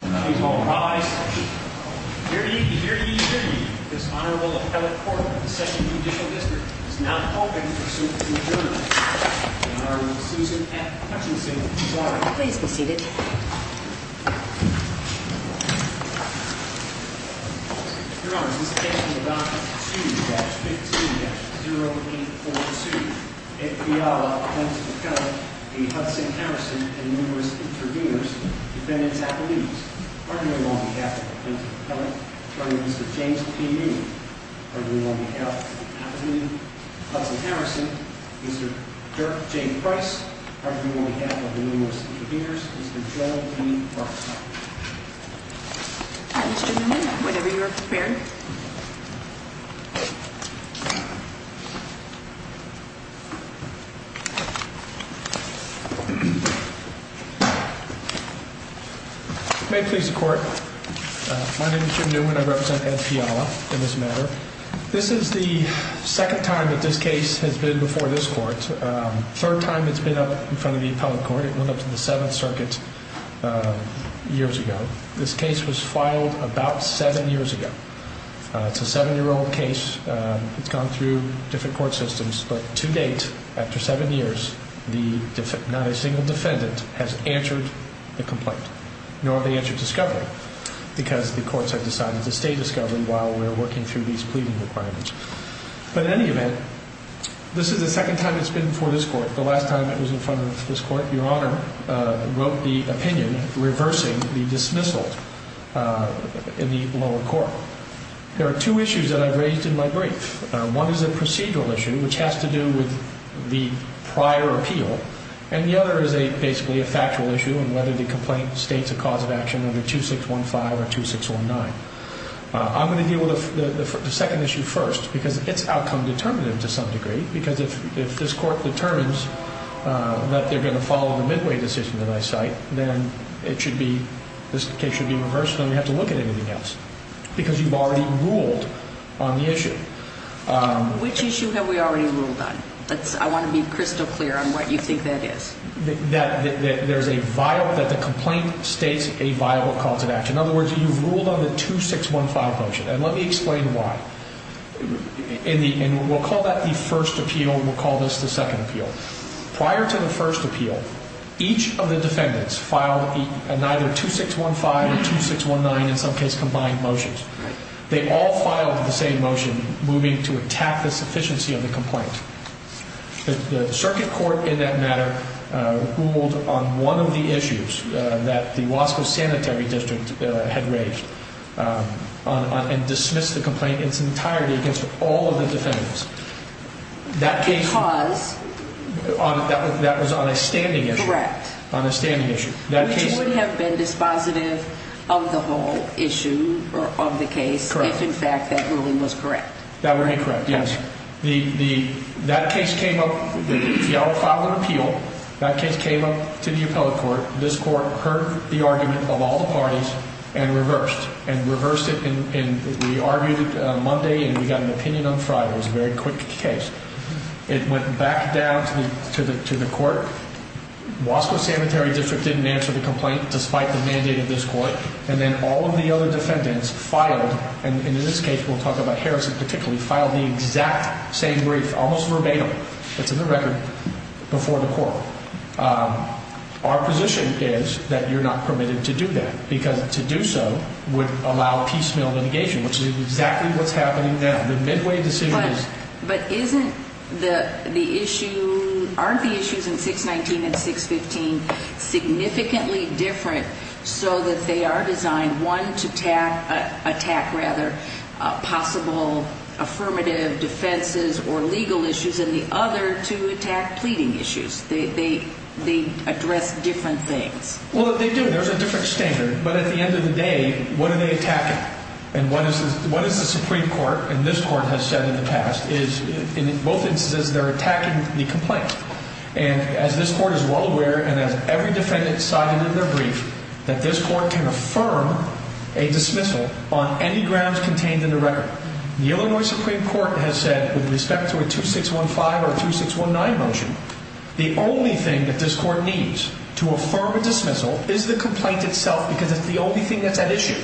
Please all rise. Hear ye, hear ye, hear ye. This Honorable Appellate Court of the 2nd Judicial District is now open for suit and adjournment. In honor of Susan F. Hutchinson. Please be seated. Your Honor, this case is about 2-15-0842. F. Fiala, plaintiff's appellate, a Hudson Harrison, and numerous intervenors, defendants' appellees. Arguing on behalf of the plaintiff's appellate, Attorney Mr. James P. Newman. Arguing on behalf of the appellate, Hudson Harrison, Mr. Dirk J. Price. Arguing on behalf of the numerous intervenors, Mr. Joel E. Marksman. Mr. Newman, whenever you are prepared. May it please the court. My name is Jim Newman. I represent F. Fiala in this matter. This is the second time that this case has been before this court. Third time it's been up in front of the appellate court. It went up to the 7th Circuit years ago. This case was filed about 7 years ago. It's a 7-year-old case. It's gone through different court systems. But to date, after 7 years, not a single defendant has answered the complaint. Nor have they answered discovery. Because the courts have decided to stay discovery while we are working through these pleading requirements. But in any event, this is the second time it's been before this court. The last time it was in front of this court, Your Honor wrote the opinion reversing the dismissal in the lower court. There are two issues that I've raised in my brief. One is a procedural issue which has to do with the prior appeal. And the other is basically a factual issue on whether the complaint states a cause of action under 2615 or 2619. I'm going to deal with the second issue first because it's outcome determinative to some degree. Because if this court determines that they're going to follow the midway decision that I cite, then this case should be reversed and we don't have to look at anything else. Because you've already ruled on the issue. Which issue have we already ruled on? I want to be crystal clear on what you think that is. That the complaint states a viable cause of action. In other words, you've ruled on the 2615 motion. And let me explain why. And we'll call that the first appeal and we'll call this the second appeal. Prior to the first appeal, each of the defendants filed either 2615 or 2619, in some cases combined motions. They all filed the same motion moving to attack the sufficiency of the complaint. The circuit court in that matter ruled on one of the issues that the Wasco Sanitary District had raised and dismissed the complaint in its entirety against all of the defendants. Because? That was on a standing issue. Correct. On a standing issue. Which would have been dispositive of the whole issue or of the case if, in fact, that ruling was correct. That would be correct, yes. That case came up. Fiala filed an appeal. That case came up to the appellate court. This court heard the argument of all the parties and reversed. And reversed it and we argued it Monday and we got an opinion on Friday. It was a very quick case. It went back down to the court. Wasco Sanitary District didn't answer the complaint despite the mandate of this court. And then all of the other defendants filed, and in this case we'll talk about Harrison particularly, filed the exact same brief, almost verbatim, it's in the record, before the court. Our position is that you're not permitted to do that because to do so would allow piecemeal litigation, which is exactly what's happening now. But aren't the issues in 619 and 615 significantly different so that they are designed, one, to attack possible affirmative defenses or legal issues, and the other to attack pleading issues? They address different things. Well, they do. There's a different standard. But at the end of the day, what are they attacking? And what is the Supreme Court and this court has said in the past is in both instances they're attacking the complaint. And as this court is well aware and as every defendant cited in their brief, that this court can affirm a dismissal on any grounds contained in the record. The Illinois Supreme Court has said with respect to a 2615 or 2619 motion, the only thing that this court needs to affirm a dismissal is the complaint itself because it's the only thing that's at issue.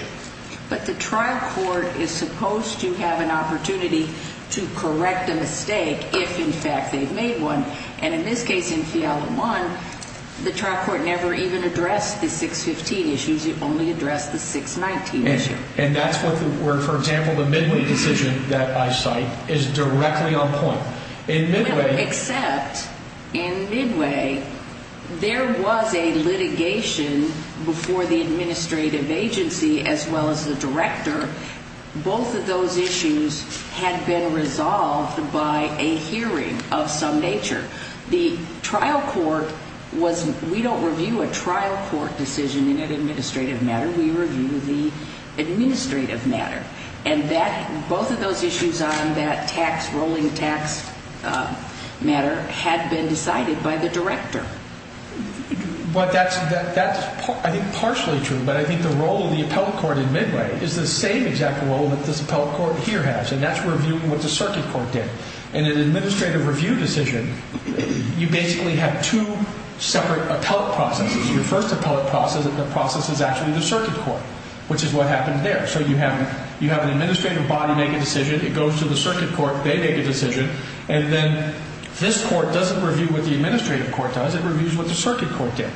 But the trial court is supposed to have an opportunity to correct a mistake if, in fact, they've made one. And in this case in Fiala 1, the trial court never even addressed the 615 issues. It only addressed the 619 issue. And that's where, for example, the Midway decision that I cite is directly on point. Well, except in Midway there was a litigation before the administrative agency as well as the director. Both of those issues had been resolved by a hearing of some nature. The trial court was we don't review a trial court decision in an administrative matter. We review the administrative matter. And both of those issues on that tax, rolling tax matter had been decided by the director. But that's, I think, partially true. But I think the role of the appellate court in Midway is the same exact role that this appellate court here has, and that's reviewing what the circuit court did. In an administrative review decision, you basically have two separate appellate processes. Your first appellate process is actually the circuit court, which is what happened there. So you have an administrative body make a decision. It goes to the circuit court. They make a decision. And then this court doesn't review what the administrative court does. It reviews what the circuit court did.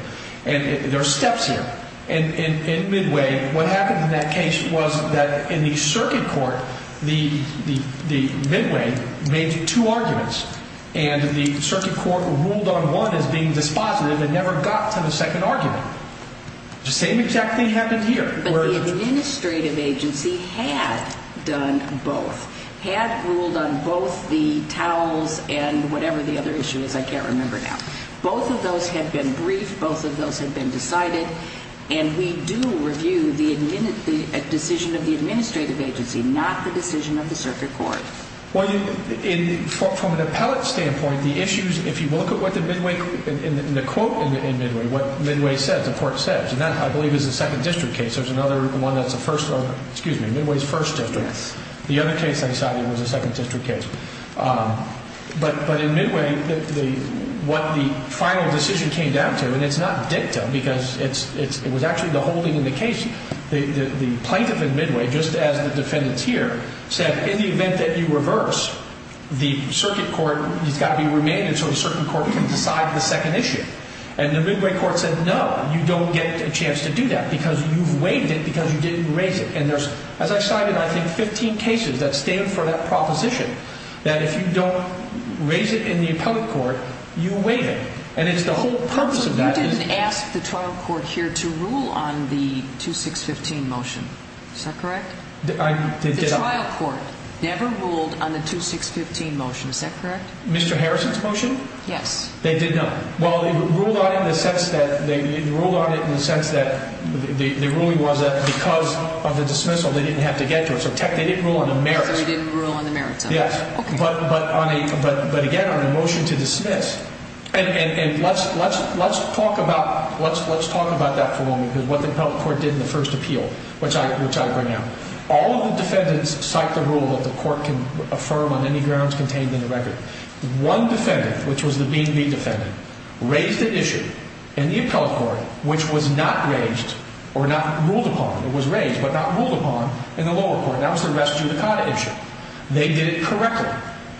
And there are steps here. In Midway, what happened in that case was that in the circuit court, the Midway made two arguments, and the circuit court ruled on one as being dispositive and never got to the second argument. The same exact thing happened here. But the administrative agency had done both, had ruled on both the towels and whatever the other issue is. I can't remember now. Both of those have been briefed. Both of those have been decided. And we do review the decision of the administrative agency, not the decision of the circuit court. Well, from an appellate standpoint, the issues, if you look at what the Midway, in the quote in Midway, what Midway says, the court says, and that, I believe, is a second district case. There's another one that's a first, excuse me, Midway's first district. Yes. The other case I decided was a second district case. But in Midway, what the final decision came down to, and it's not dicta because it was actually the holding in the case. The plaintiff in Midway, just as the defendants here, said in the event that you reverse, the circuit court has got to be remanded so the circuit court can decide the second issue. And the Midway court said, no, you don't get a chance to do that because you've waived it because you didn't raise it. And there's, as I cited, I think 15 cases that stand for that proposition, that if you don't raise it in the appellate court, you waive it. And it's the whole purpose of that. You didn't ask the trial court here to rule on the 2615 motion. Is that correct? The trial court never ruled on the 2615 motion. Is that correct? Mr. Harrison's motion? Yes. They did not. Well, it ruled on it in the sense that the ruling was that because of the dismissal, they didn't have to get to it. So they didn't rule on the merits. So they didn't rule on the merits. Yes. Okay. But, again, on the motion to dismiss. And let's talk about that for a moment, because what the appellate court did in the first appeal, which I bring out. All of the defendants cite the rule that the court can affirm on any grounds contained in the record. One defendant, which was the Beanby defendant, raised an issue in the appellate court which was not raised or not ruled upon. It was raised but not ruled upon in the lower court, and that was the res judicata issue. They did it correctly.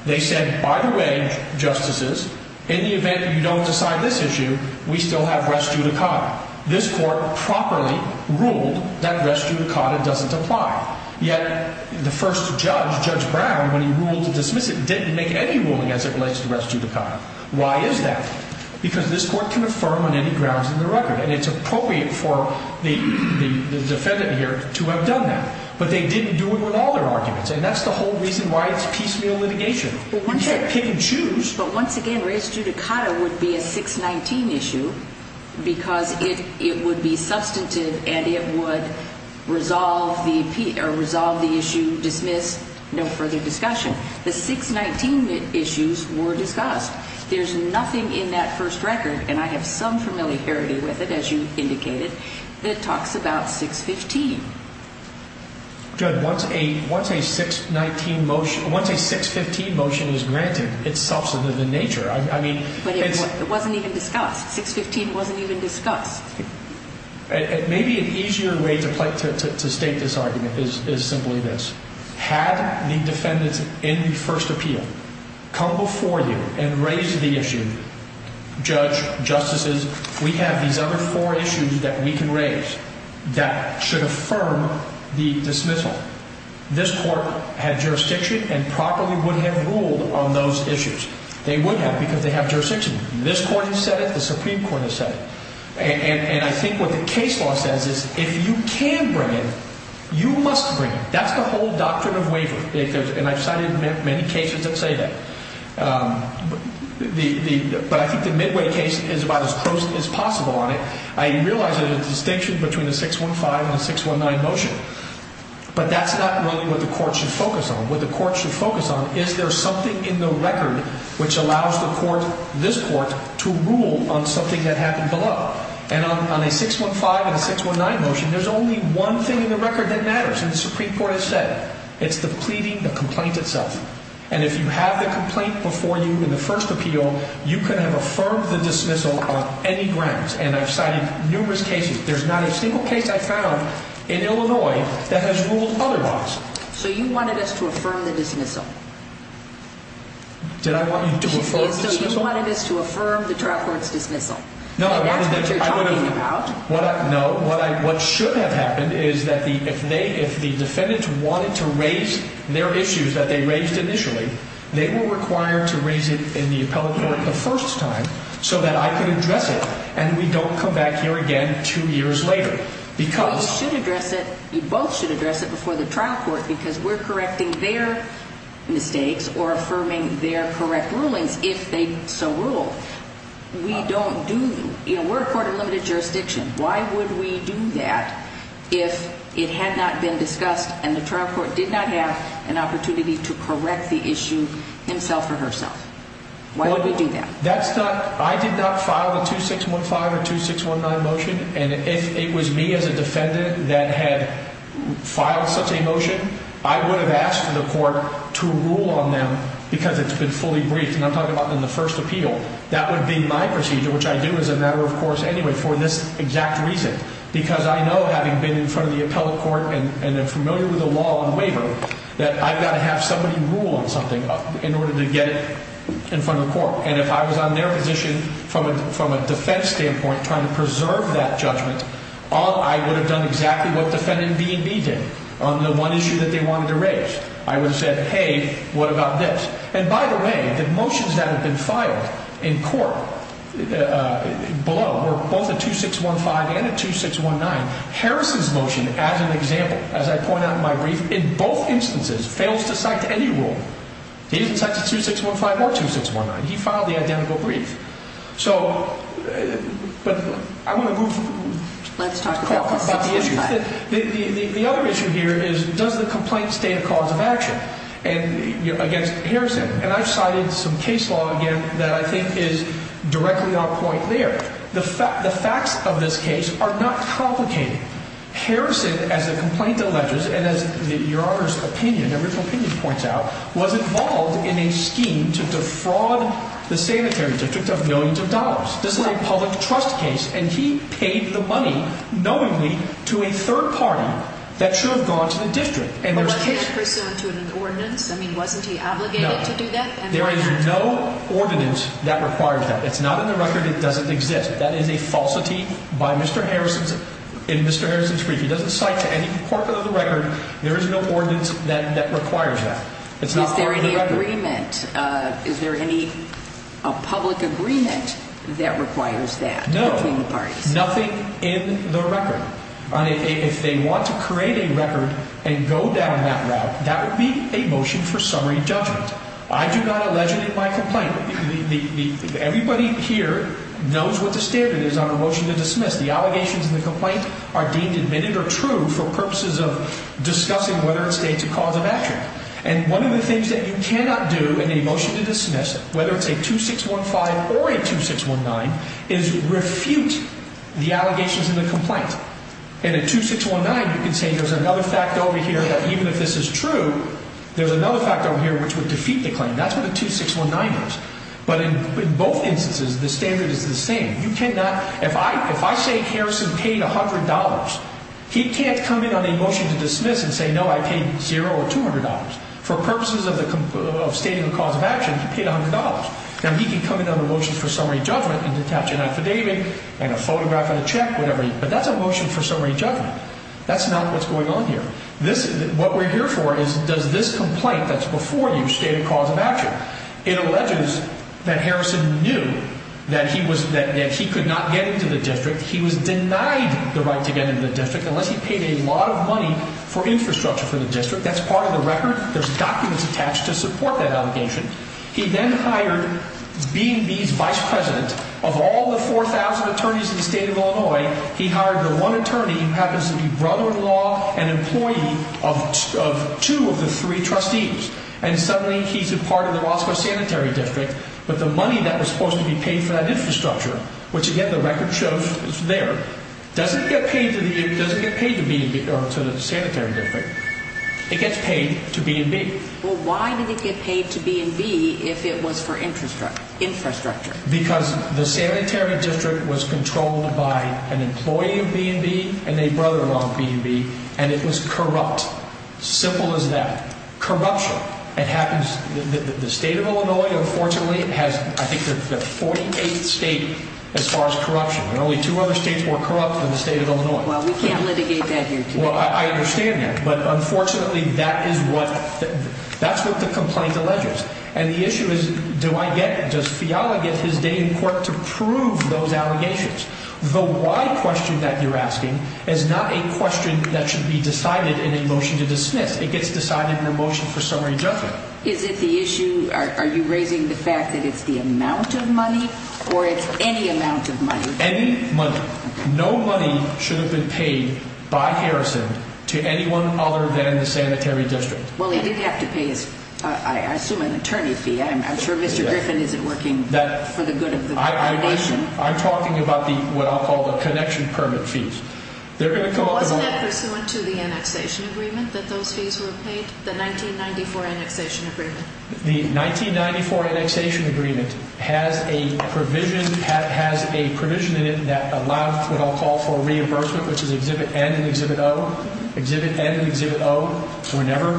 They said, by the way, Justices, in the event that you don't decide this issue, we still have res judicata. This court properly ruled that res judicata doesn't apply. Yet the first judge, Judge Brown, when he ruled to dismiss it, didn't make any ruling as it relates to res judicata. Why is that? Because this court can affirm on any grounds in the record, and it's appropriate for the defendant here to have done that. But they didn't do it with all their arguments, and that's the whole reason why it's piecemeal litigation. You can't pick and choose. But once again, res judicata would be a 619 issue because it would be substantive and it would resolve the issue, dismiss, no further discussion. The 619 issues were discussed. There's nothing in that first record, and I have some familiarity with it, as you indicated, that talks about 615. Judge, once a 615 motion is granted, it's substantive in nature. But it wasn't even discussed. 615 wasn't even discussed. Maybe an easier way to state this argument is simply this. Had the defendants in the first appeal come before you and raised the issue, Judge, Justices, we have these other four issues that we can raise that should affirm the dismissal. This court had jurisdiction and properly would have ruled on those issues. They would have because they have jurisdiction. This court has said it. The Supreme Court has said it. And I think what the case law says is if you can bring it, you must bring it. That's the whole doctrine of waiver, and I've cited many cases that say that. But I think the Midway case is about as close as possible on it. I realize there's a distinction between a 615 and a 619 motion, but that's not really what the court should focus on. What the court should focus on is there something in the record which allows the court, this court, to rule on something that happened below. And on a 615 and a 619 motion, there's only one thing in the record that matters, and the Supreme Court has said it. It's the pleading, the complaint itself. And if you have the complaint before you in the first appeal, you can have affirmed the dismissal on any grounds. And I've cited numerous cases. There's not a single case I found in Illinois that has ruled otherwise. So you wanted us to affirm the dismissal? Did I want you to affirm the dismissal? So you wanted us to affirm the trial court's dismissal. No, I wanted them to. That's what you're talking about. No, what should have happened is that if the defendants wanted to raise their issues that they raised initially, they were required to raise it in the appellate court the first time so that I could address it, and we don't come back here again two years later because— Well, you should address it. You both should address it before the trial court because we're correcting their mistakes or affirming their correct rulings if they so rule. We don't do—we're a court of limited jurisdiction. Why would we do that if it had not been discussed and the trial court did not have an opportunity to correct the issue himself or herself? Why would we do that? That's not—I did not file a 2615 or 2619 motion, and if it was me as a defendant that had filed such a motion, I would have asked for the court to rule on them because it's been fully briefed, and I'm talking about in the first appeal. That would be my procedure, which I do as a matter of course anyway for this exact reason because I know having been in front of the appellate court and am familiar with the law on waiver that I've got to have somebody rule on something in order to get it in front of the court, and if I was on their position from a defense standpoint trying to preserve that judgment, I would have done exactly what defendant B&B did on the one issue that they wanted to raise. I would have said, hey, what about this? And by the way, the motions that have been filed in court below were both a 2615 and a 2619. Harrison's motion, as an example, as I point out in my brief, in both instances fails to cite any rule. He didn't cite the 2615 or 2619. He filed the identical brief. So, but I'm going to move— Let's talk about this at some time. The other issue here is does the complaint state a cause of action? Against Harrison. And I've cited some case law again that I think is directly on point there. The facts of this case are not complicated. Harrison, as the complaint alleges, and as Your Honor's opinion, every opinion points out, was involved in a scheme to defraud the sanitary district of millions of dollars. This is a public trust case, and he paid the money knowingly to a third party that should have gone to the district. But was he pursuant to an ordinance? I mean, wasn't he obligated to do that? There is no ordinance that requires that. It's not in the record. It doesn't exist. That is a falsity by Mr. Harrison in Mr. Harrison's brief. He doesn't cite to any part of the record. There is no ordinance that requires that. It's not part of the record. Is there any agreement? Is there any public agreement that requires that between the parties? No. Nothing in the record. If they want to create a record and go down that route, that would be a motion for summary judgment. I do not allege it in my complaint. Everybody here knows what the standard is on the motion to dismiss. The allegations in the complaint are deemed admitted or true for purposes of discussing whether it states a cause of action. And one of the things that you cannot do in a motion to dismiss, whether it's a 2615 or a 2619, is refute the allegations in the complaint. And a 2619, you can say there's another fact over here that even if this is true, there's another fact over here which would defeat the claim. That's what a 2619 is. But in both instances, the standard is the same. If I say Harrison paid $100, he can't come in on a motion to dismiss and say, no, I paid $0 or $200. For purposes of stating a cause of action, he paid $100. Now, he can come in on a motion for summary judgment and attach an affidavit and a photograph and a check, whatever, but that's a motion for summary judgment. That's not what's going on here. What we're here for is does this complaint that's before you state a cause of action? It alleges that Harrison knew that he could not get into the district. He was denied the right to get into the district unless he paid a lot of money for infrastructure for the district. That's part of the record. There's documents attached to support that allegation. He then hired B&B's vice president. Of all the 4,000 attorneys in the state of Illinois, he hired the one attorney who happens to be brother-in-law and employee of two of the three trustees, and suddenly he's a part of the Roscoe Sanitary District. But the money that was supposed to be paid for that infrastructure, which, again, the record shows is there, doesn't get paid to the Sanitary District. It gets paid to B&B. Well, why did it get paid to B&B if it was for infrastructure? Because the Sanitary District was controlled by an employee of B&B and a brother-in-law of B&B, and it was corrupt. Simple as that. Corruption. It happens that the state of Illinois, unfortunately, has, I think, the 48th state as far as corruption. There are only two other states more corrupt than the state of Illinois. Well, we can't litigate that here today. Well, I understand that, but unfortunately that is what the complaint alleges. And the issue is, do I get it? Does Fiala get his day in court to prove those allegations? The why question that you're asking is not a question that should be decided in a motion to dismiss. It gets decided in a motion for summary judgment. Is it the issue, are you raising the fact that it's the amount of money, or it's any amount of money? It's any money. No money should have been paid by Harrison to anyone other than the Sanitary District. Well, he did have to pay, I assume, an attorney fee. I'm sure Mr. Griffin isn't working for the good of the foundation. I'm talking about what I'll call the connection permit fees. Wasn't that pursuant to the annexation agreement that those fees were paid, the 1994 annexation agreement? The 1994 annexation agreement has a provision in it that allows what I'll call for reimbursement, which is Exhibit N and Exhibit O. Exhibit N and Exhibit O were never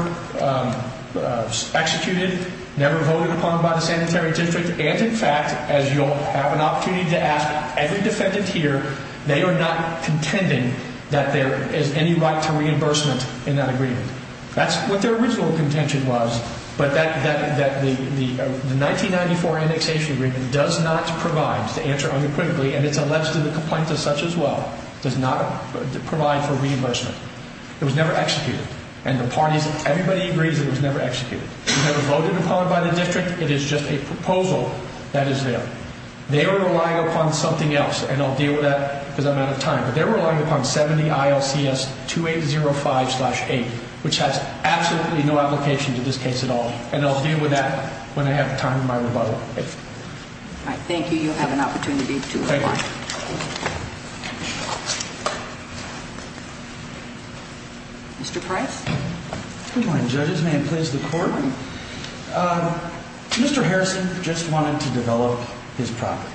executed, never voted upon by the Sanitary District. And, in fact, as you'll have an opportunity to ask every defendant here, they are not contending that there is any right to reimbursement in that agreement. That's what their original contention was, but the 1994 annexation agreement does not provide, to answer unequivocally, and it's alleged in the complaint as such as well, does not provide for reimbursement. It was never executed, and the parties, everybody agrees it was never executed. It was never voted upon by the district. It is just a proposal that is there. They are relying upon something else, and I'll deal with that because I'm out of time, but they were relying upon 70 ILCS 2805-8, which has absolutely no application to this case at all, and I'll deal with that when I have time in my rebuttal. All right. Thank you. You have an opportunity to reply. Thank you. Mr. Price? Good morning, judges. May it please the Court? Good morning. Mr. Harrison just wanted to develop his property,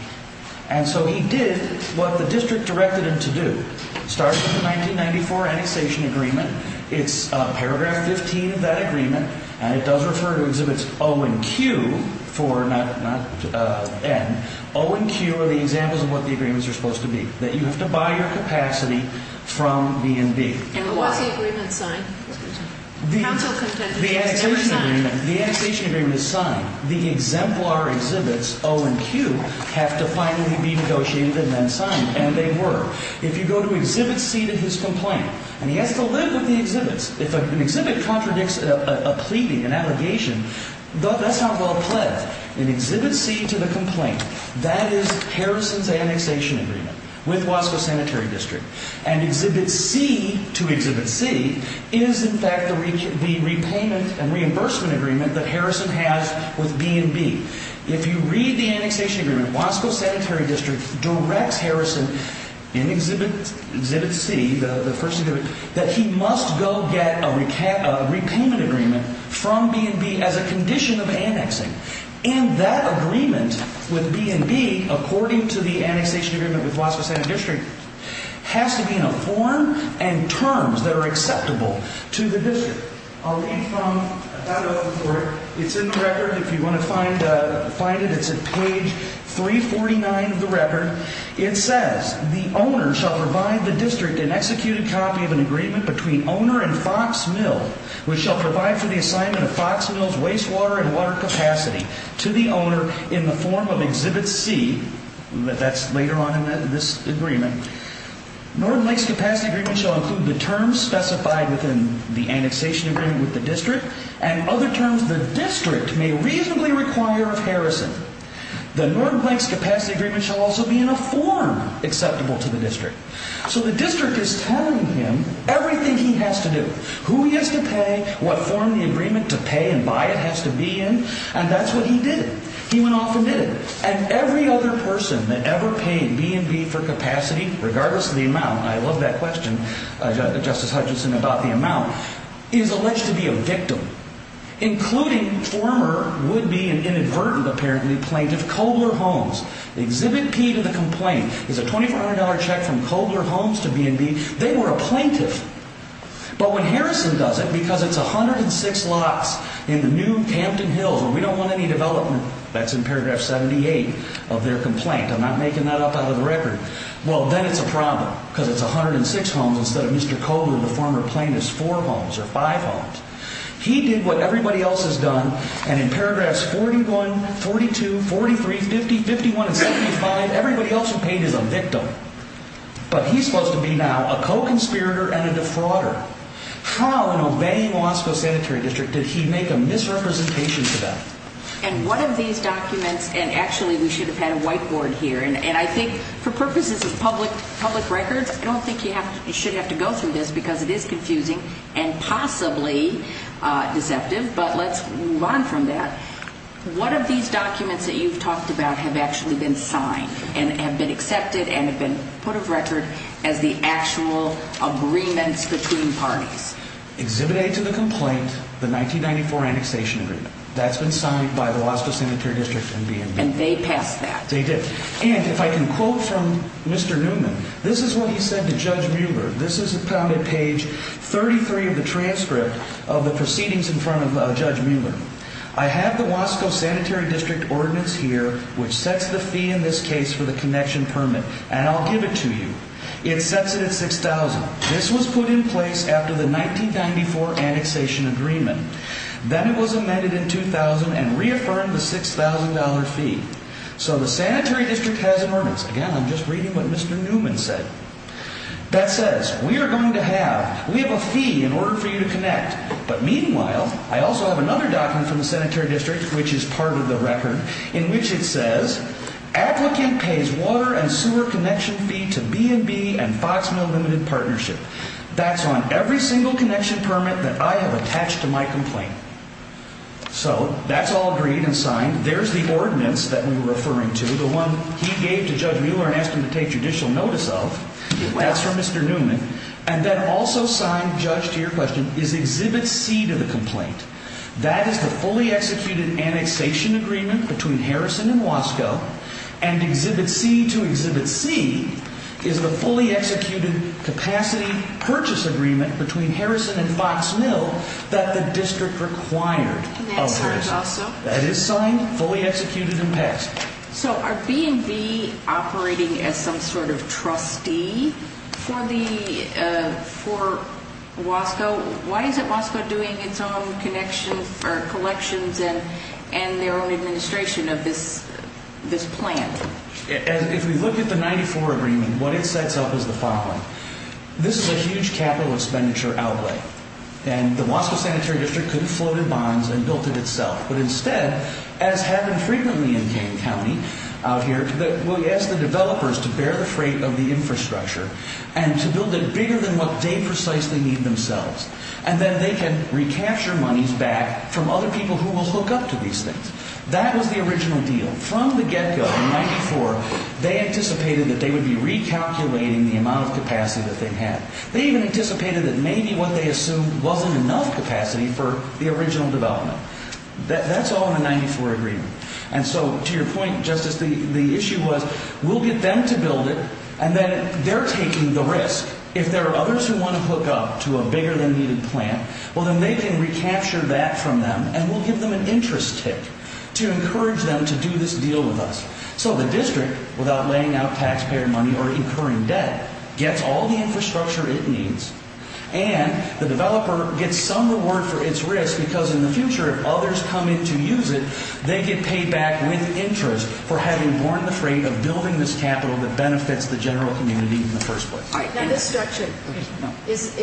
and so he did what the district directed him to do. It starts with the 1994 annexation agreement. It's paragraph 15 of that agreement, and it does refer to exhibits O and Q for not N. O and Q are the examples of what the agreements are supposed to be, that you have to buy your capacity from B&B. And was the agreement signed? The annexation agreement is signed. The exemplar exhibits O and Q have to finally be negotiated and then signed, and they were. If you go to Exhibit C to his complaint, and he has to live with the exhibits. If an exhibit contradicts a pleading, an allegation, that's not well pledged. In Exhibit C to the complaint, that is Harrison's annexation agreement with Wasco Sanitary District. And Exhibit C to Exhibit C is, in fact, the repayment and reimbursement agreement that Harrison has with B&B. If you read the annexation agreement, Wasco Sanitary District directs Harrison in Exhibit C, the first exhibit, that he must go get a repayment agreement from B&B as a condition of annexing. And that agreement with B&B, according to the annexation agreement with Wasco Sanitary District, has to be in a form and terms that are acceptable to the district. I'll read from that, it's in the record, if you want to find it, it's at page 349 of the record. It says, the owner shall provide the district an executed copy of an agreement between owner and Fox Mill, which shall provide for the assignment of Fox Mill's wastewater and water capacity to the owner in the form of Exhibit C. That's later on in this agreement. Northern Lakes Capacity Agreement shall include the terms specified within the annexation agreement with the district and other terms the district may reasonably require of Harrison. The Northern Lakes Capacity Agreement shall also be in a form acceptable to the district. So the district is telling him everything he has to do. Who he has to pay, what form the agreement to pay and buy it has to be in, and that's what he did. He went off and did it. And every other person that ever paid B&B for capacity, regardless of the amount, and I love that question, Justice Hutchinson, about the amount, is alleged to be a victim. Including former, would-be and inadvertent, apparently, plaintiff, Kobler Holmes. Exhibit P to the complaint is a $2,400 check from Kobler Holmes to B&B. They were a plaintiff. But when Harrison does it, because it's 106 lots in the new Campton Hills, and we don't want any development, that's in paragraph 78 of their complaint. I'm not making that up out of the record. Well, then it's a problem, because it's 106 homes instead of Mr. Kobler, the former plaintiff's four homes or five homes. He did what everybody else has done, and in paragraphs 41, 42, 43, 50, 51, and 75, everybody else who paid is a victim. But he's supposed to be now a co-conspirator and a defrauder. How, in obeying the Wasco Sanitary District, did he make a misrepresentation for that? And one of these documents, and actually we should have had a whiteboard here, and I think for purposes of public records, I don't think you should have to go through this, because it is confusing and possibly deceptive, but let's move on from that. One of these documents that you've talked about have actually been signed and have been accepted and have been put of record as the actual agreements between parties. Exhibit A to the complaint, the 1994 annexation agreement. That's been signed by the Wasco Sanitary District and B&B. And they passed that. They did. And if I can quote from Mr. Newman, this is what he said to Judge Mueller. This is found at page 33 of the transcript of the proceedings in front of Judge Mueller. I have the Wasco Sanitary District ordinance here, which sets the fee in this case for the connection permit, and I'll give it to you. It sets it at $6,000. This was put in place after the 1994 annexation agreement. Then it was amended in 2000 and reaffirmed the $6,000 fee. So the Sanitary District has an ordinance. Again, I'm just reading what Mr. Newman said. That says, we are going to have, we have a fee in order for you to connect, but meanwhile, I also have another document from the Sanitary District, which is part of the record, in which it says, applicant pays water and sewer connection fee to B&B and Fox Mill Limited Partnership. That's on every single connection permit that I have attached to my complaint. So that's all agreed and signed. There's the ordinance that we were referring to, the one he gave to Judge Mueller and asked him to take judicial notice of. That's from Mr. Newman. And then also signed, Judge, to your question, is Exhibit C to the complaint. That is the fully executed annexation agreement between Harrison and Wasco. And Exhibit C to Exhibit C is the fully executed capacity purchase agreement between Harrison and Fox Mill that the district required of Harrison. And that's signed also? So are B&B operating as some sort of trustee for Wasco? Why isn't Wasco doing its own collections and their own administration of this plan? If we look at the 94 agreement, what it sets up is the following. This is a huge capital expenditure outlay. And the Wasco Sanitary District could have floated bonds and built it itself. But instead, as happened frequently in Kane County out here, we asked the developers to bear the freight of the infrastructure and to build it bigger than what they precisely need themselves. And then they can recapture monies back from other people who will hook up to these things. That was the original deal. From the get-go, in 94, they anticipated that they would be recalculating the amount of capacity that they had. They even anticipated that maybe what they assumed wasn't enough capacity for the original development. That's all in the 94 agreement. And so to your point, Justice, the issue was we'll get them to build it, and then they're taking the risk. If there are others who want to hook up to a bigger-than-needed plant, well, then they can recapture that from them, and we'll give them an interest tick to encourage them to do this deal with us. So the district, without laying out taxpayer money or incurring debt, gets all the infrastructure it needs. And the developer gets some reward for its risk because in the future, if others come in to use it, they get paid back with interest for having borne the freight of building this capital that benefits the general community in the first place. All right. Now, this structure, this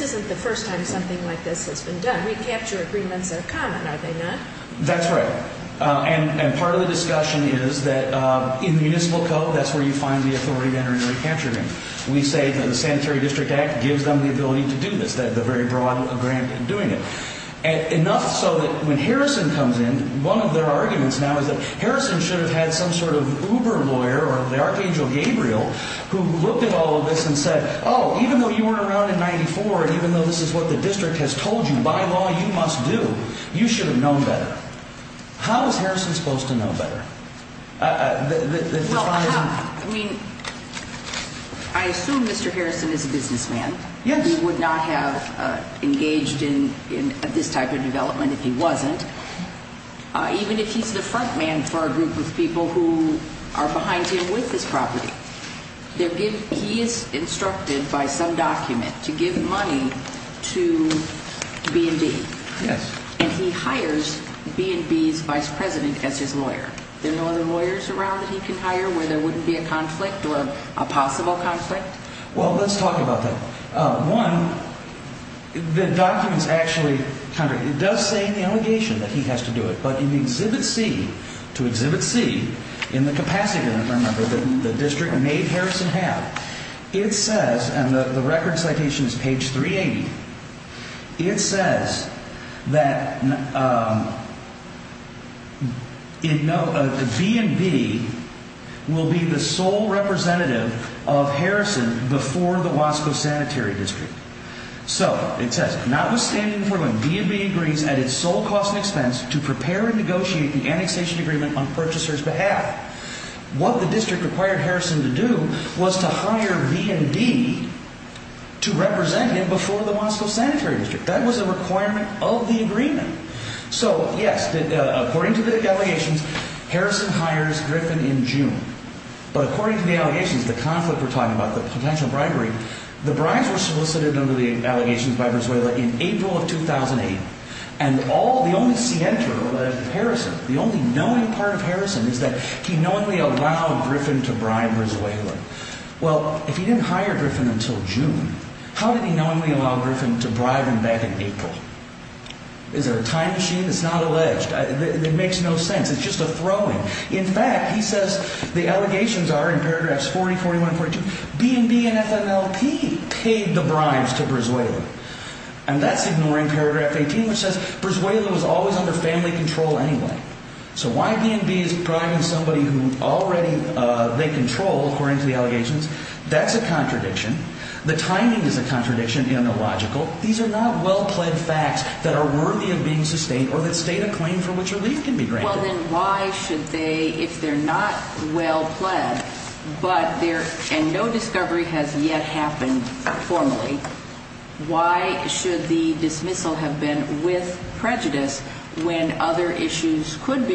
isn't the first time something like this has been done. Recapture agreements are common, are they not? That's right. And part of the discussion is that in the municipal code, that's where you find the authority to enter into a recapture agreement. We say that the Sanitary District Act gives them the ability to do this, the very broad grant in doing it. Enough so that when Harrison comes in, one of their arguments now is that Harrison should have had some sort of Uber lawyer or the Archangel Gabriel who looked at all of this and said, oh, even though you weren't around in 94 and even though this is what the district has told you by law you must do, you should have known better. How is Harrison supposed to know better? Well, I mean, I assume Mr. Harrison is a businessman. Yes. He would not have engaged in this type of development if he wasn't, even if he's the front man for a group of people who are behind him with this property. He is instructed by some document to give money to B&B. Yes. And he hires B&B's vice president as his lawyer. There are no other lawyers around that he can hire where there wouldn't be a conflict or a possible conflict? Well, let's talk about that. One, the documents actually, it does say in the allegation that he has to do it, but in Exhibit C, to Exhibit C, in the capacity agreement, remember, that the district made Harrison have, it says, and the record citation is page 380, it says that B&B will be the sole representative of Harrison before the Wasco Sanitary District. So, it says, notwithstanding, B&B agrees at its sole cost and expense to prepare and negotiate the annexation agreement on purchaser's behalf. What the district required Harrison to do was to hire B&B to represent him before the Wasco Sanitary District. That was a requirement of the agreement. So, yes, according to the allegations, Harrison hires Griffin in June. But according to the allegations, the conflict we're talking about, the potential bribery, the bribes were solicited under the allegations by Venezuela in April of 2008. And all, the only scienter of Harrison, the only knowing part of Harrison is that he knowingly allowed Griffin to bribe Venezuela. Well, if he didn't hire Griffin until June, how did he knowingly allow Griffin to bribe him back in April? Is there a time machine? It's not alleged. It makes no sense. It's just a throwing. In fact, he says the allegations are in paragraphs 40, 41, 42, B&B and FMLP paid the bribes to Venezuela. And that's ignoring paragraph 18, which says Venezuela was always under family control anyway. So, why B&B is bribing somebody who already they control, according to the allegations? That's a contradiction. The timing is a contradiction in the logical. These are not well-plaid facts that are worthy of being sustained or that state a claim for which relief can be granted. Well, then why should they, if they're not well-plaid and no discovery has yet happened formally, why should the dismissal have been with prejudice when other issues could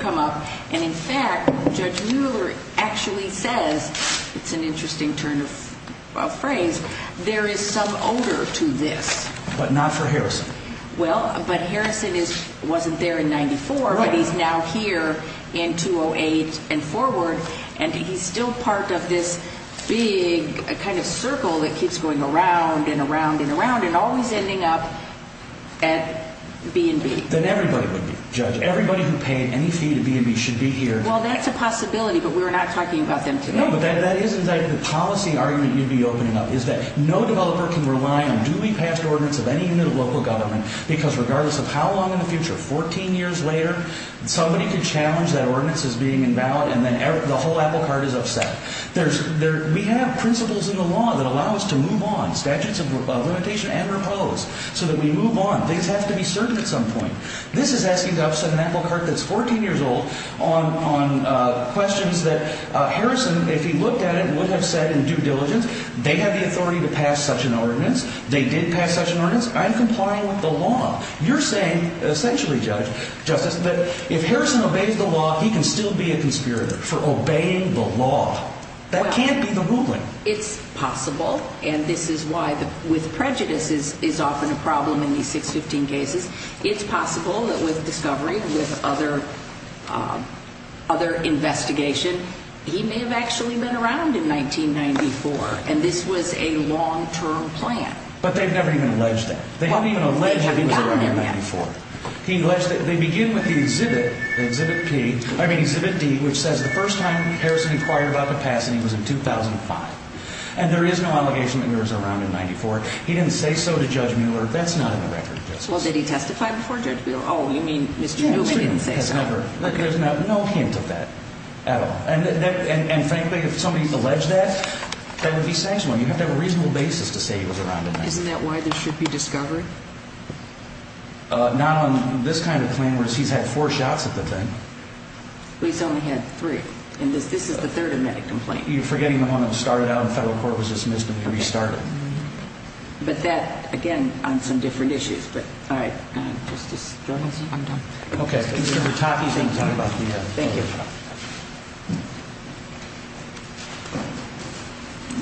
come up? And, in fact, Judge Mueller actually says, it's an interesting turn of phrase, there is some odor to this. But not for Harrison. Well, but Harrison wasn't there in 94, but he's now here in 208 and forward. And he's still part of this big kind of circle that keeps going around and around and around and always ending up at B&B. Then everybody would be, Judge. Everybody who paid any fee to B&B should be here. Well, that's a possibility, but we're not talking about them today. No, but that is exactly the policy argument you'd be opening up, is that no developer can rely on duly passed ordinance of any unit of local government because regardless of how long in the future, 14 years later, somebody could challenge that ordinance as being invalid, and then the whole apple cart is upset. We have principles in the law that allow us to move on, statutes of limitation and repose, so that we move on. Things have to be certain at some point. This is asking to upset an apple cart that's 14 years old on questions that Harrison, if he looked at it, would have said in due diligence. They have the authority to pass such an ordinance. They did pass such an ordinance. I'm complying with the law. You're saying, essentially, Justice, that if Harrison obeys the law, he can still be a conspirator for obeying the law. That can't be the ruling. It's possible, and this is why with prejudice is often a problem in these 615 cases. It's possible that with discovery and with other investigation, he may have actually been around in 1994, and this was a long-term plan. But they've never even alleged that. They haven't even alleged that he was around in 1994. They begin with the exhibit, exhibit D, which says the first time Harrison inquired about the passing was in 2005, and there is no allegation that he was around in 1994. He didn't say so to Judge Mueller. That's not in the record, Justice. Well, did he testify before Judge Mueller? Oh, you mean Mr. Newman didn't say so. There's no hint of that at all. And frankly, if somebody alleged that, that would be sexual. You have to have a reasonable basis to say he was around in 1994. Isn't that why there should be discovery? Not on this kind of claim where he's had four shots at the thing. He's only had three, and this is the third immediate complaint. You're forgetting the one that started out in federal court was dismissed and restarted. But that, again, on some different issues. But, all right. Justice Jones, I'm done. Okay. Thank you.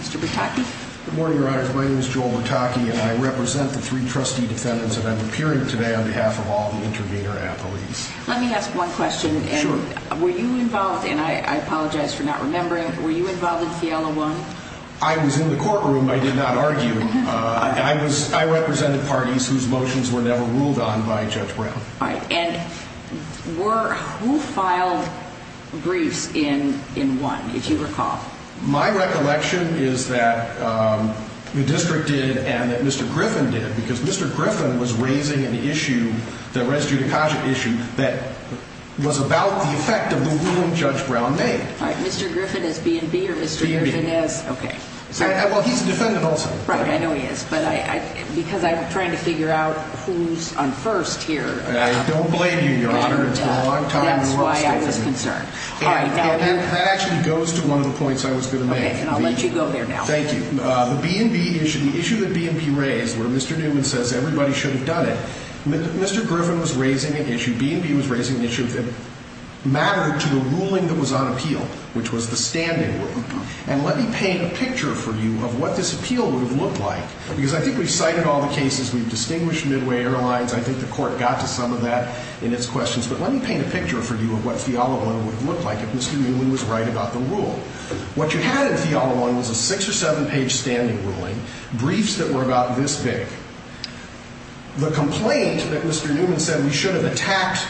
Mr. Bertocchi? Good morning, Your Honors. My name is Joel Bertocchi, and I represent the three trustee defendants, and I'm appearing today on behalf of all the intervener athletes. Let me ask one question. Sure. Were you involved, and I apologize for not remembering, were you involved in Fiala 1? I was in the courtroom. I did not argue. I represented parties whose motions were never ruled on by Judge Brown. All right. And who filed briefs in 1, if you recall? My recollection is that the district did and that Mr. Griffin did, because Mr. Griffin was raising an issue, the res judicata issue, that was about the effect of the ruling Judge Brown made. All right. Mr. Griffin is B&B, or Mr. Griffin is? B&B. Well, he's a defendant also. Right. I know he is. But because I'm trying to figure out who's on first here. I don't blame you, Your Honor. It's been a long time. That's why I was concerned. All right. That actually goes to one of the points I was going to make. Okay. And I'll let you go there now. Thank you. The B&B issue, the issue that B&B raised, where Mr. Newman says everybody should have done it, Mr. Griffin was raising an issue, B&B was raising an issue that mattered to the ruling that was on appeal, which was the standing ruling. And let me paint a picture for you of what this appeal would have looked like. Because I think we've cited all the cases. We've distinguished Midway Airlines. I think the court got to some of that in its questions. But let me paint a picture for you of what Fiala 1 would have looked like if Mr. Newman was right about the rule. What you had in Fiala 1 was a six- or seven-page standing ruling, briefs that were about this big. The complaint that Mr. Newman said we should have attacked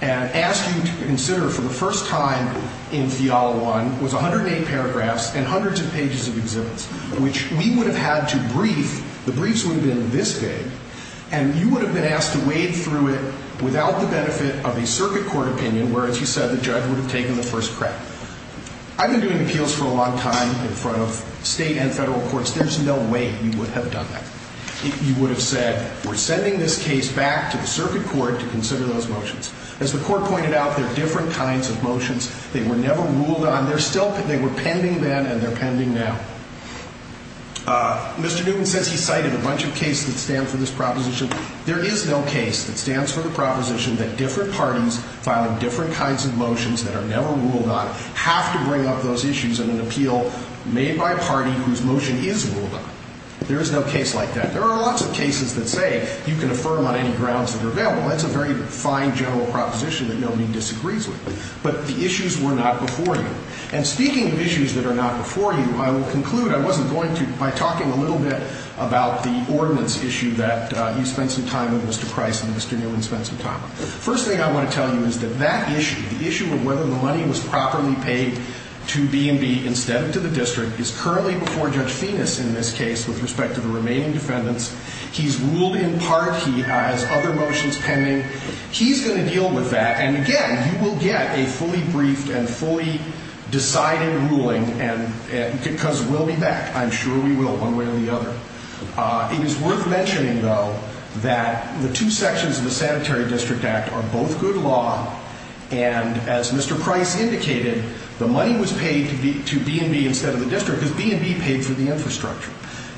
and asked you to consider for the first time in Fiala 1 was 108 paragraphs and hundreds of pages of exhibits, which we would have had to brief. The briefs would have been this big. And you would have been asked to wade through it without the benefit of a circuit court opinion, whereas you said the judge would have taken the first crack. I've been doing appeals for a long time in front of state and federal courts. There's no way you would have done that. You would have said we're sending this case back to the circuit court to consider those motions. As the court pointed out, they're different kinds of motions. They were never ruled on. They were pending then, and they're pending now. Mr. Newman says he cited a bunch of cases that stand for this proposition. There is no case that stands for the proposition that different parties filing different kinds of motions that are never ruled on have to bring up those issues in an appeal made by a party whose motion is ruled on. There is no case like that. There are lots of cases that say you can affirm on any grounds that are available. That's a very fine general proposition that nobody disagrees with. But the issues were not before you. And speaking of issues that are not before you, I will conclude, I wasn't going to, by talking a little bit about the ordinance issue that you spent some time on, Mr. Price, and Mr. Newman spent some time on. First thing I want to tell you is that that issue, the issue of whether the money was properly paid to B&B instead of to the district, is currently before Judge Phoenix in this case with respect to the remaining defendants. He's ruled in part. He has other motions pending. He's going to deal with that. And, again, you will get a fully briefed and fully decided ruling, because we'll be back. I'm sure we will, one way or the other. It is worth mentioning, though, that the two sections of the Sanitary District Act are both good law, and as Mr. Price indicated, the money was paid to B&B instead of the district because B&B paid for the infrastructure.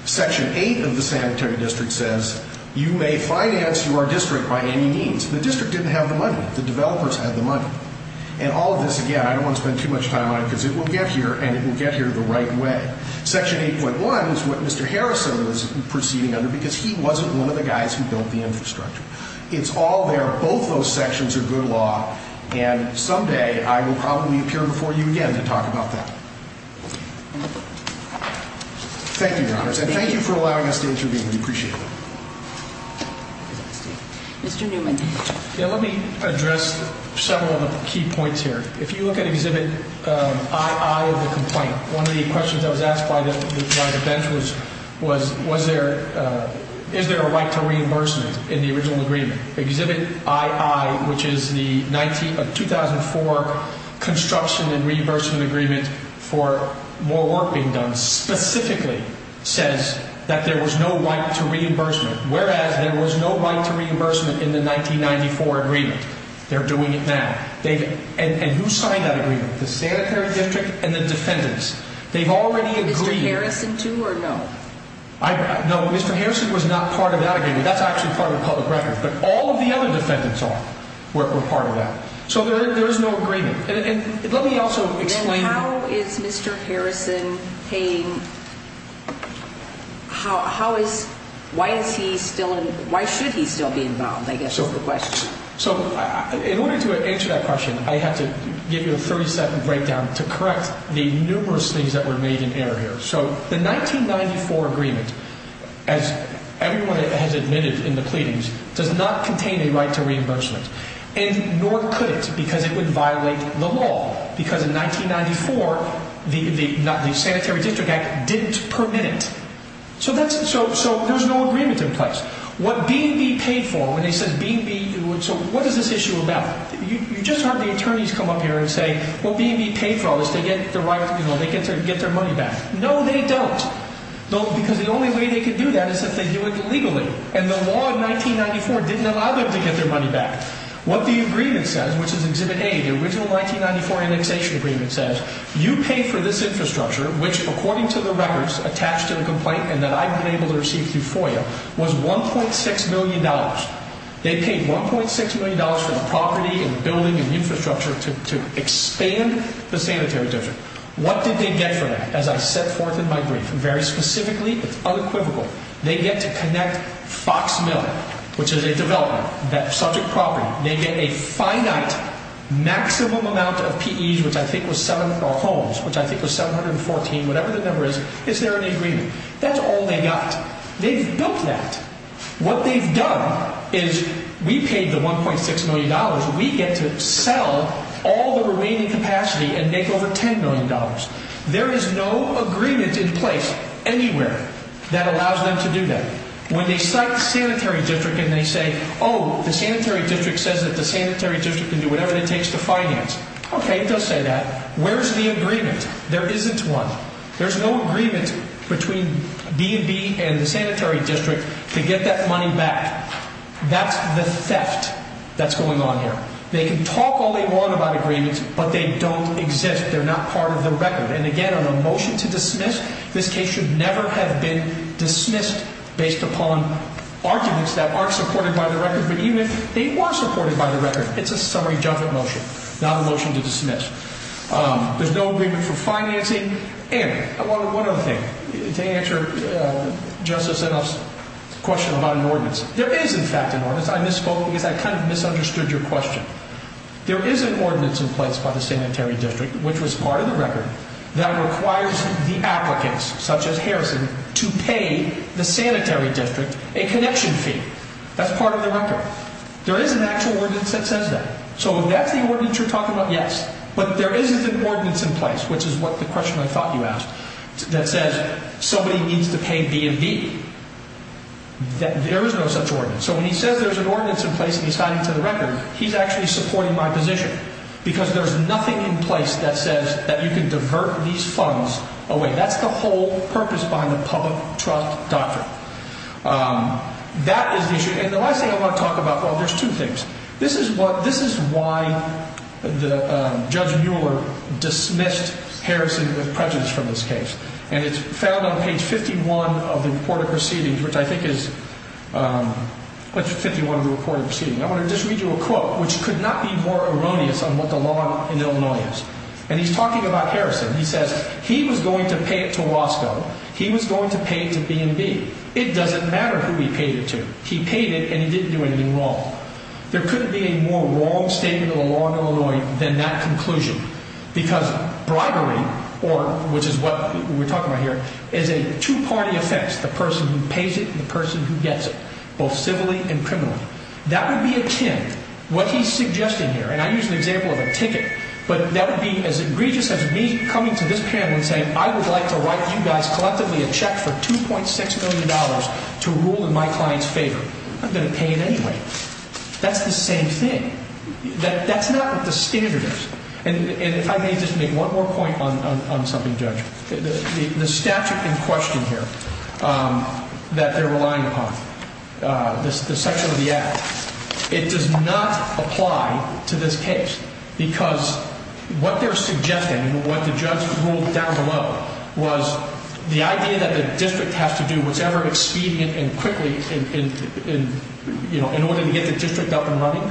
Section 8 of the Sanitary District says you may finance your district by any means. The district didn't have the money. The developers had the money. And all of this, again, I don't want to spend too much time on it because it will get here, and it will get here the right way. Section 8.1 is what Mr. Harrison was proceeding under because he wasn't one of the guys who built the infrastructure. It's all there. Both those sections are good law, and someday I will probably appear before you again to talk about that. Thank you, Your Honors, and thank you for allowing us to intervene. We appreciate it. Mr. Newman. Let me address several of the key points here. If you look at Exhibit II of the complaint, one of the questions that was asked by the bench was, is there a right to reimbursement in the original agreement? Exhibit II, which is the 2004 construction and reimbursement agreement for more work being done, specifically says that there was no right to reimbursement, whereas there was no right to reimbursement in the 1994 agreement. They're doing it now. And who signed that agreement? The Sanitary District and the defendants. They've already agreed. Mr. Harrison, too, or no? No, Mr. Harrison was not part of that agreement. That's actually part of the public record. But all of the other defendants were part of that. So there is no agreement. And let me also explain. How is Mr. Harrison paying – how is – why is he still – why should he still be involved, I guess, is the question. So in order to answer that question, I have to give you a 30-second breakdown to correct the numerous things that were made in error here. So the 1994 agreement, as everyone has admitted in the pleadings, does not contain a right to reimbursement, and nor could it because it would violate the law because in 1994 the Sanitary District Act didn't permit it. So that's – so there's no agreement in place. What B&B paid for, when they said B&B – so what is this issue about? You just heard the attorneys come up here and say, well, B&B paid for all this. They get the right – you know, they get their money back. No, they don't, because the only way they could do that is if they do it legally, and the law in 1994 didn't allow them to get their money back. What the agreement says, which is Exhibit A, the original 1994 annexation agreement says, you pay for this infrastructure, which according to the records attached to the complaint and that I've been able to receive through FOIA, was $1.6 million. They paid $1.6 million for the property and building and infrastructure to expand the Sanitary District. What did they get for that? As I set forth in my brief, very specifically, it's unequivocal. They get to connect Fox Mill, which is a development, that subject property. They get a finite maximum amount of PEs, which I think was 7 – or homes, which I think was 714, whatever the number is. Is there an agreement? That's all they got. They've built that. What they've done is we paid the $1.6 million. We get to sell all the remaining capacity and make over $10 million. There is no agreement in place anywhere that allows them to do that. When they cite the Sanitary District and they say, oh, the Sanitary District says that the Sanitary District can do whatever it takes to finance. Okay, it does say that. Where's the agreement? There isn't one. There's no agreement between B&B and the Sanitary District to get that money back. That's the theft that's going on here. They can talk all they want about agreements, but they don't exist. They're not part of the record. And again, on a motion to dismiss, this case should never have been dismissed based upon arguments that aren't supported by the record. But even if they were supported by the record, it's a summary judgment motion, not a motion to dismiss. There's no agreement for financing. And one other thing to answer Justice Inhofe's question about an ordinance. There is, in fact, an ordinance. I misspoke because I kind of misunderstood your question. There is an ordinance in place by the Sanitary District, which was part of the record, that requires the applicants, such as Harrison, to pay the Sanitary District a connection fee. That's part of the record. There is an actual ordinance that says that. So if that's the ordinance you're talking about, yes. But there is an ordinance in place, which is the question I thought you asked, that says somebody needs to pay B&B. There is no such ordinance. So when he says there's an ordinance in place and he's hiding it from the record, he's actually supporting my position. Because there's nothing in place that says that you can divert these funds away. That's the whole purpose behind the public trust doctrine. That is the issue. And the last thing I want to talk about, well, there's two things. This is why Judge Mueller dismissed Harrison with prejudice from this case. And it's found on page 51 of the report of proceedings, which I think is 51 of the report of proceedings. I want to just read you a quote, which could not be more erroneous on what the law in Illinois is. And he's talking about Harrison. He says he was going to pay it to Roscoe. He was going to pay it to B&B. It doesn't matter who he paid it to. He paid it and he didn't do anything wrong. There couldn't be a more wrong statement of the law in Illinois than that conclusion. Because bribery, which is what we're talking about here, is a two-party offense. The person who pays it and the person who gets it, both civilly and criminally. That would be a chimp. What he's suggesting here, and I use the example of a ticket, but that would be as egregious as me coming to this panel and saying, I would like to write you guys collectively a check for $2.6 million to rule in my client's favor. I'm going to pay it anyway. That's the same thing. That's not what the standard is. And if I may just make one more point on something, Judge. The statute in question here that they're relying upon, the section of the act, it does not apply to this case. Because what they're suggesting and what the judge ruled down below was the idea that the district has to do whatever expedient and quickly in order to get the district up and running.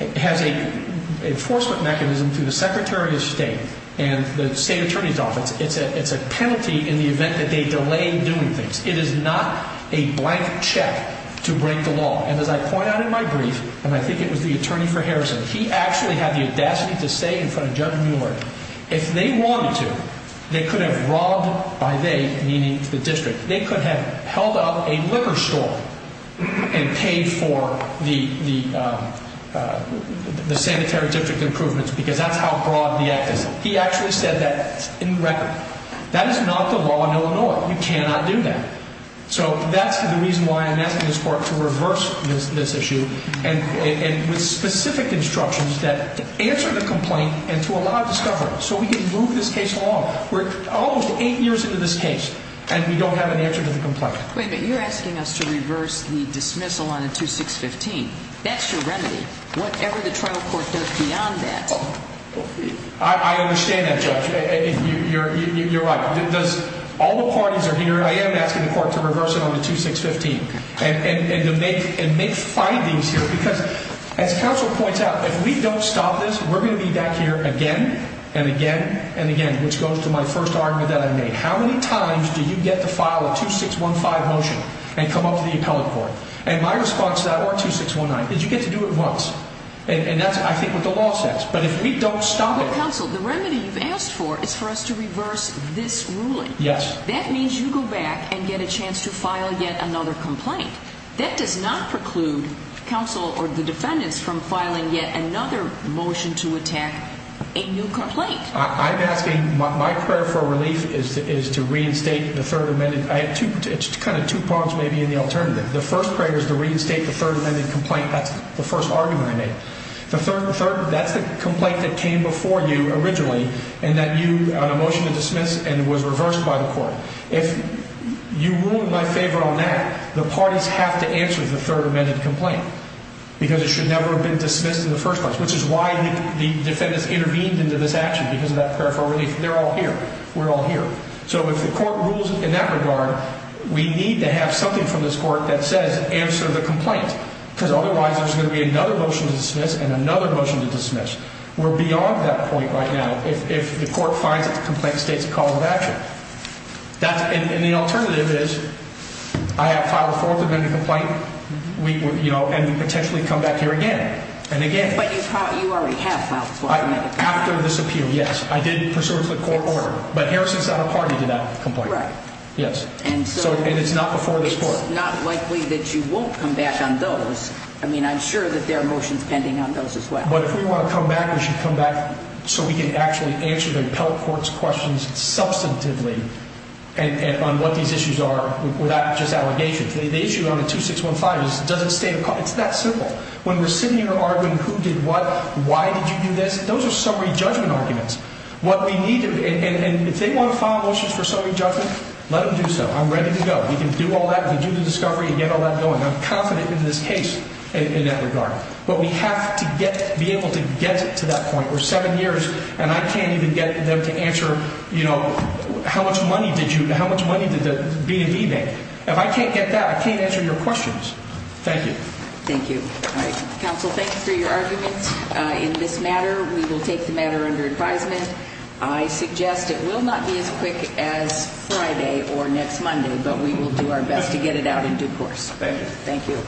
It has an enforcement mechanism through the Secretary of State and the State Attorney's Office. It's a penalty in the event that they delay doing things. It is not a blank check to break the law. And as I point out in my brief, and I think it was the attorney for Harrison, he actually had the audacity to say in front of Judge Mueller, if they wanted to, they could have robbed by they, meaning the district. They could have held up a liquor store and paid for the sanitary district improvements because that's how broad the act is. He actually said that in record. That is not the law in Illinois. You cannot do that. So that's the reason why I'm asking this court to reverse this issue and with specific instructions that answer the complaint and to allow discovery. So we can move this case along. We're almost eight years into this case, and we don't have an answer to the complaint. Wait a minute. You're asking us to reverse the dismissal on a 2615. That's your remedy. Whatever the trial court does beyond that. I understand that, Judge. You're right. All the parties are here. I am asking the court to reverse it on the 2615 and make findings here. Because as counsel points out, if we don't stop this, we're going to be back here again and again and again, which goes to my first argument that I made. How many times do you get to file a 2615 motion and come up to the appellate court? And my response to that, or 2619, is you get to do it once. And that's, I think, what the law says. But if we don't stop it. Counsel, the remedy you've asked for is for us to reverse this ruling. Yes. That means you go back and get a chance to file yet another complaint. That does not preclude counsel or the defendants from filing yet another motion to attack a new complaint. I'm asking, my prayer for relief is to reinstate the third amendment. It's kind of two parts, maybe, in the alternative. The first prayer is to reinstate the third amendment complaint. That's the first argument I made. That's the complaint that came before you originally and that you had a motion to dismiss and was reversed by the court. If you rule in my favor on that, the parties have to answer the third amendment complaint. Because it should never have been dismissed in the first place, which is why the defendants intervened into this action, because of that prayer for relief. They're all here. We're all here. So if the court rules in that regard, we need to have something from this court that says answer the complaint. Because otherwise there's going to be another motion to dismiss and another motion to dismiss. We're beyond that point right now if the court finds that the complaint states a call to action. And the alternative is I have filed a fourth amendment complaint and we potentially come back here again and again. But you already have filed a fourth amendment complaint. After this appeal, yes. I did pursuant to the court order. But Harrison's not a party to that complaint. Right. Yes. And it's not before this court. So it's not likely that you won't come back on those. I mean, I'm sure that there are motions pending on those as well. But if we want to come back, we should come back so we can actually answer the appellate court's questions substantively on what these issues are without just allegations. The issue on the 2615 is does it state a call? It's that simple. When we're sitting here arguing who did what, why did you do this, those are summary judgment arguments. What we need to do, and if they want to file motions for summary judgment, let them do so. I'm ready to go. We can do all that. We can do the discovery and get all that going. I'm confident in this case in that regard. But we have to be able to get to that point. We're seven years, and I can't even get them to answer, you know, how much money did you – how much money did the B&B make? If I can't get that, I can't answer your questions. Thank you. Thank you. All right. Counsel, thank you for your arguments in this matter. We will take the matter under advisement. I suggest it will not be as quick as Friday or next Monday, but we will do our best to get it out in due course. Thank you.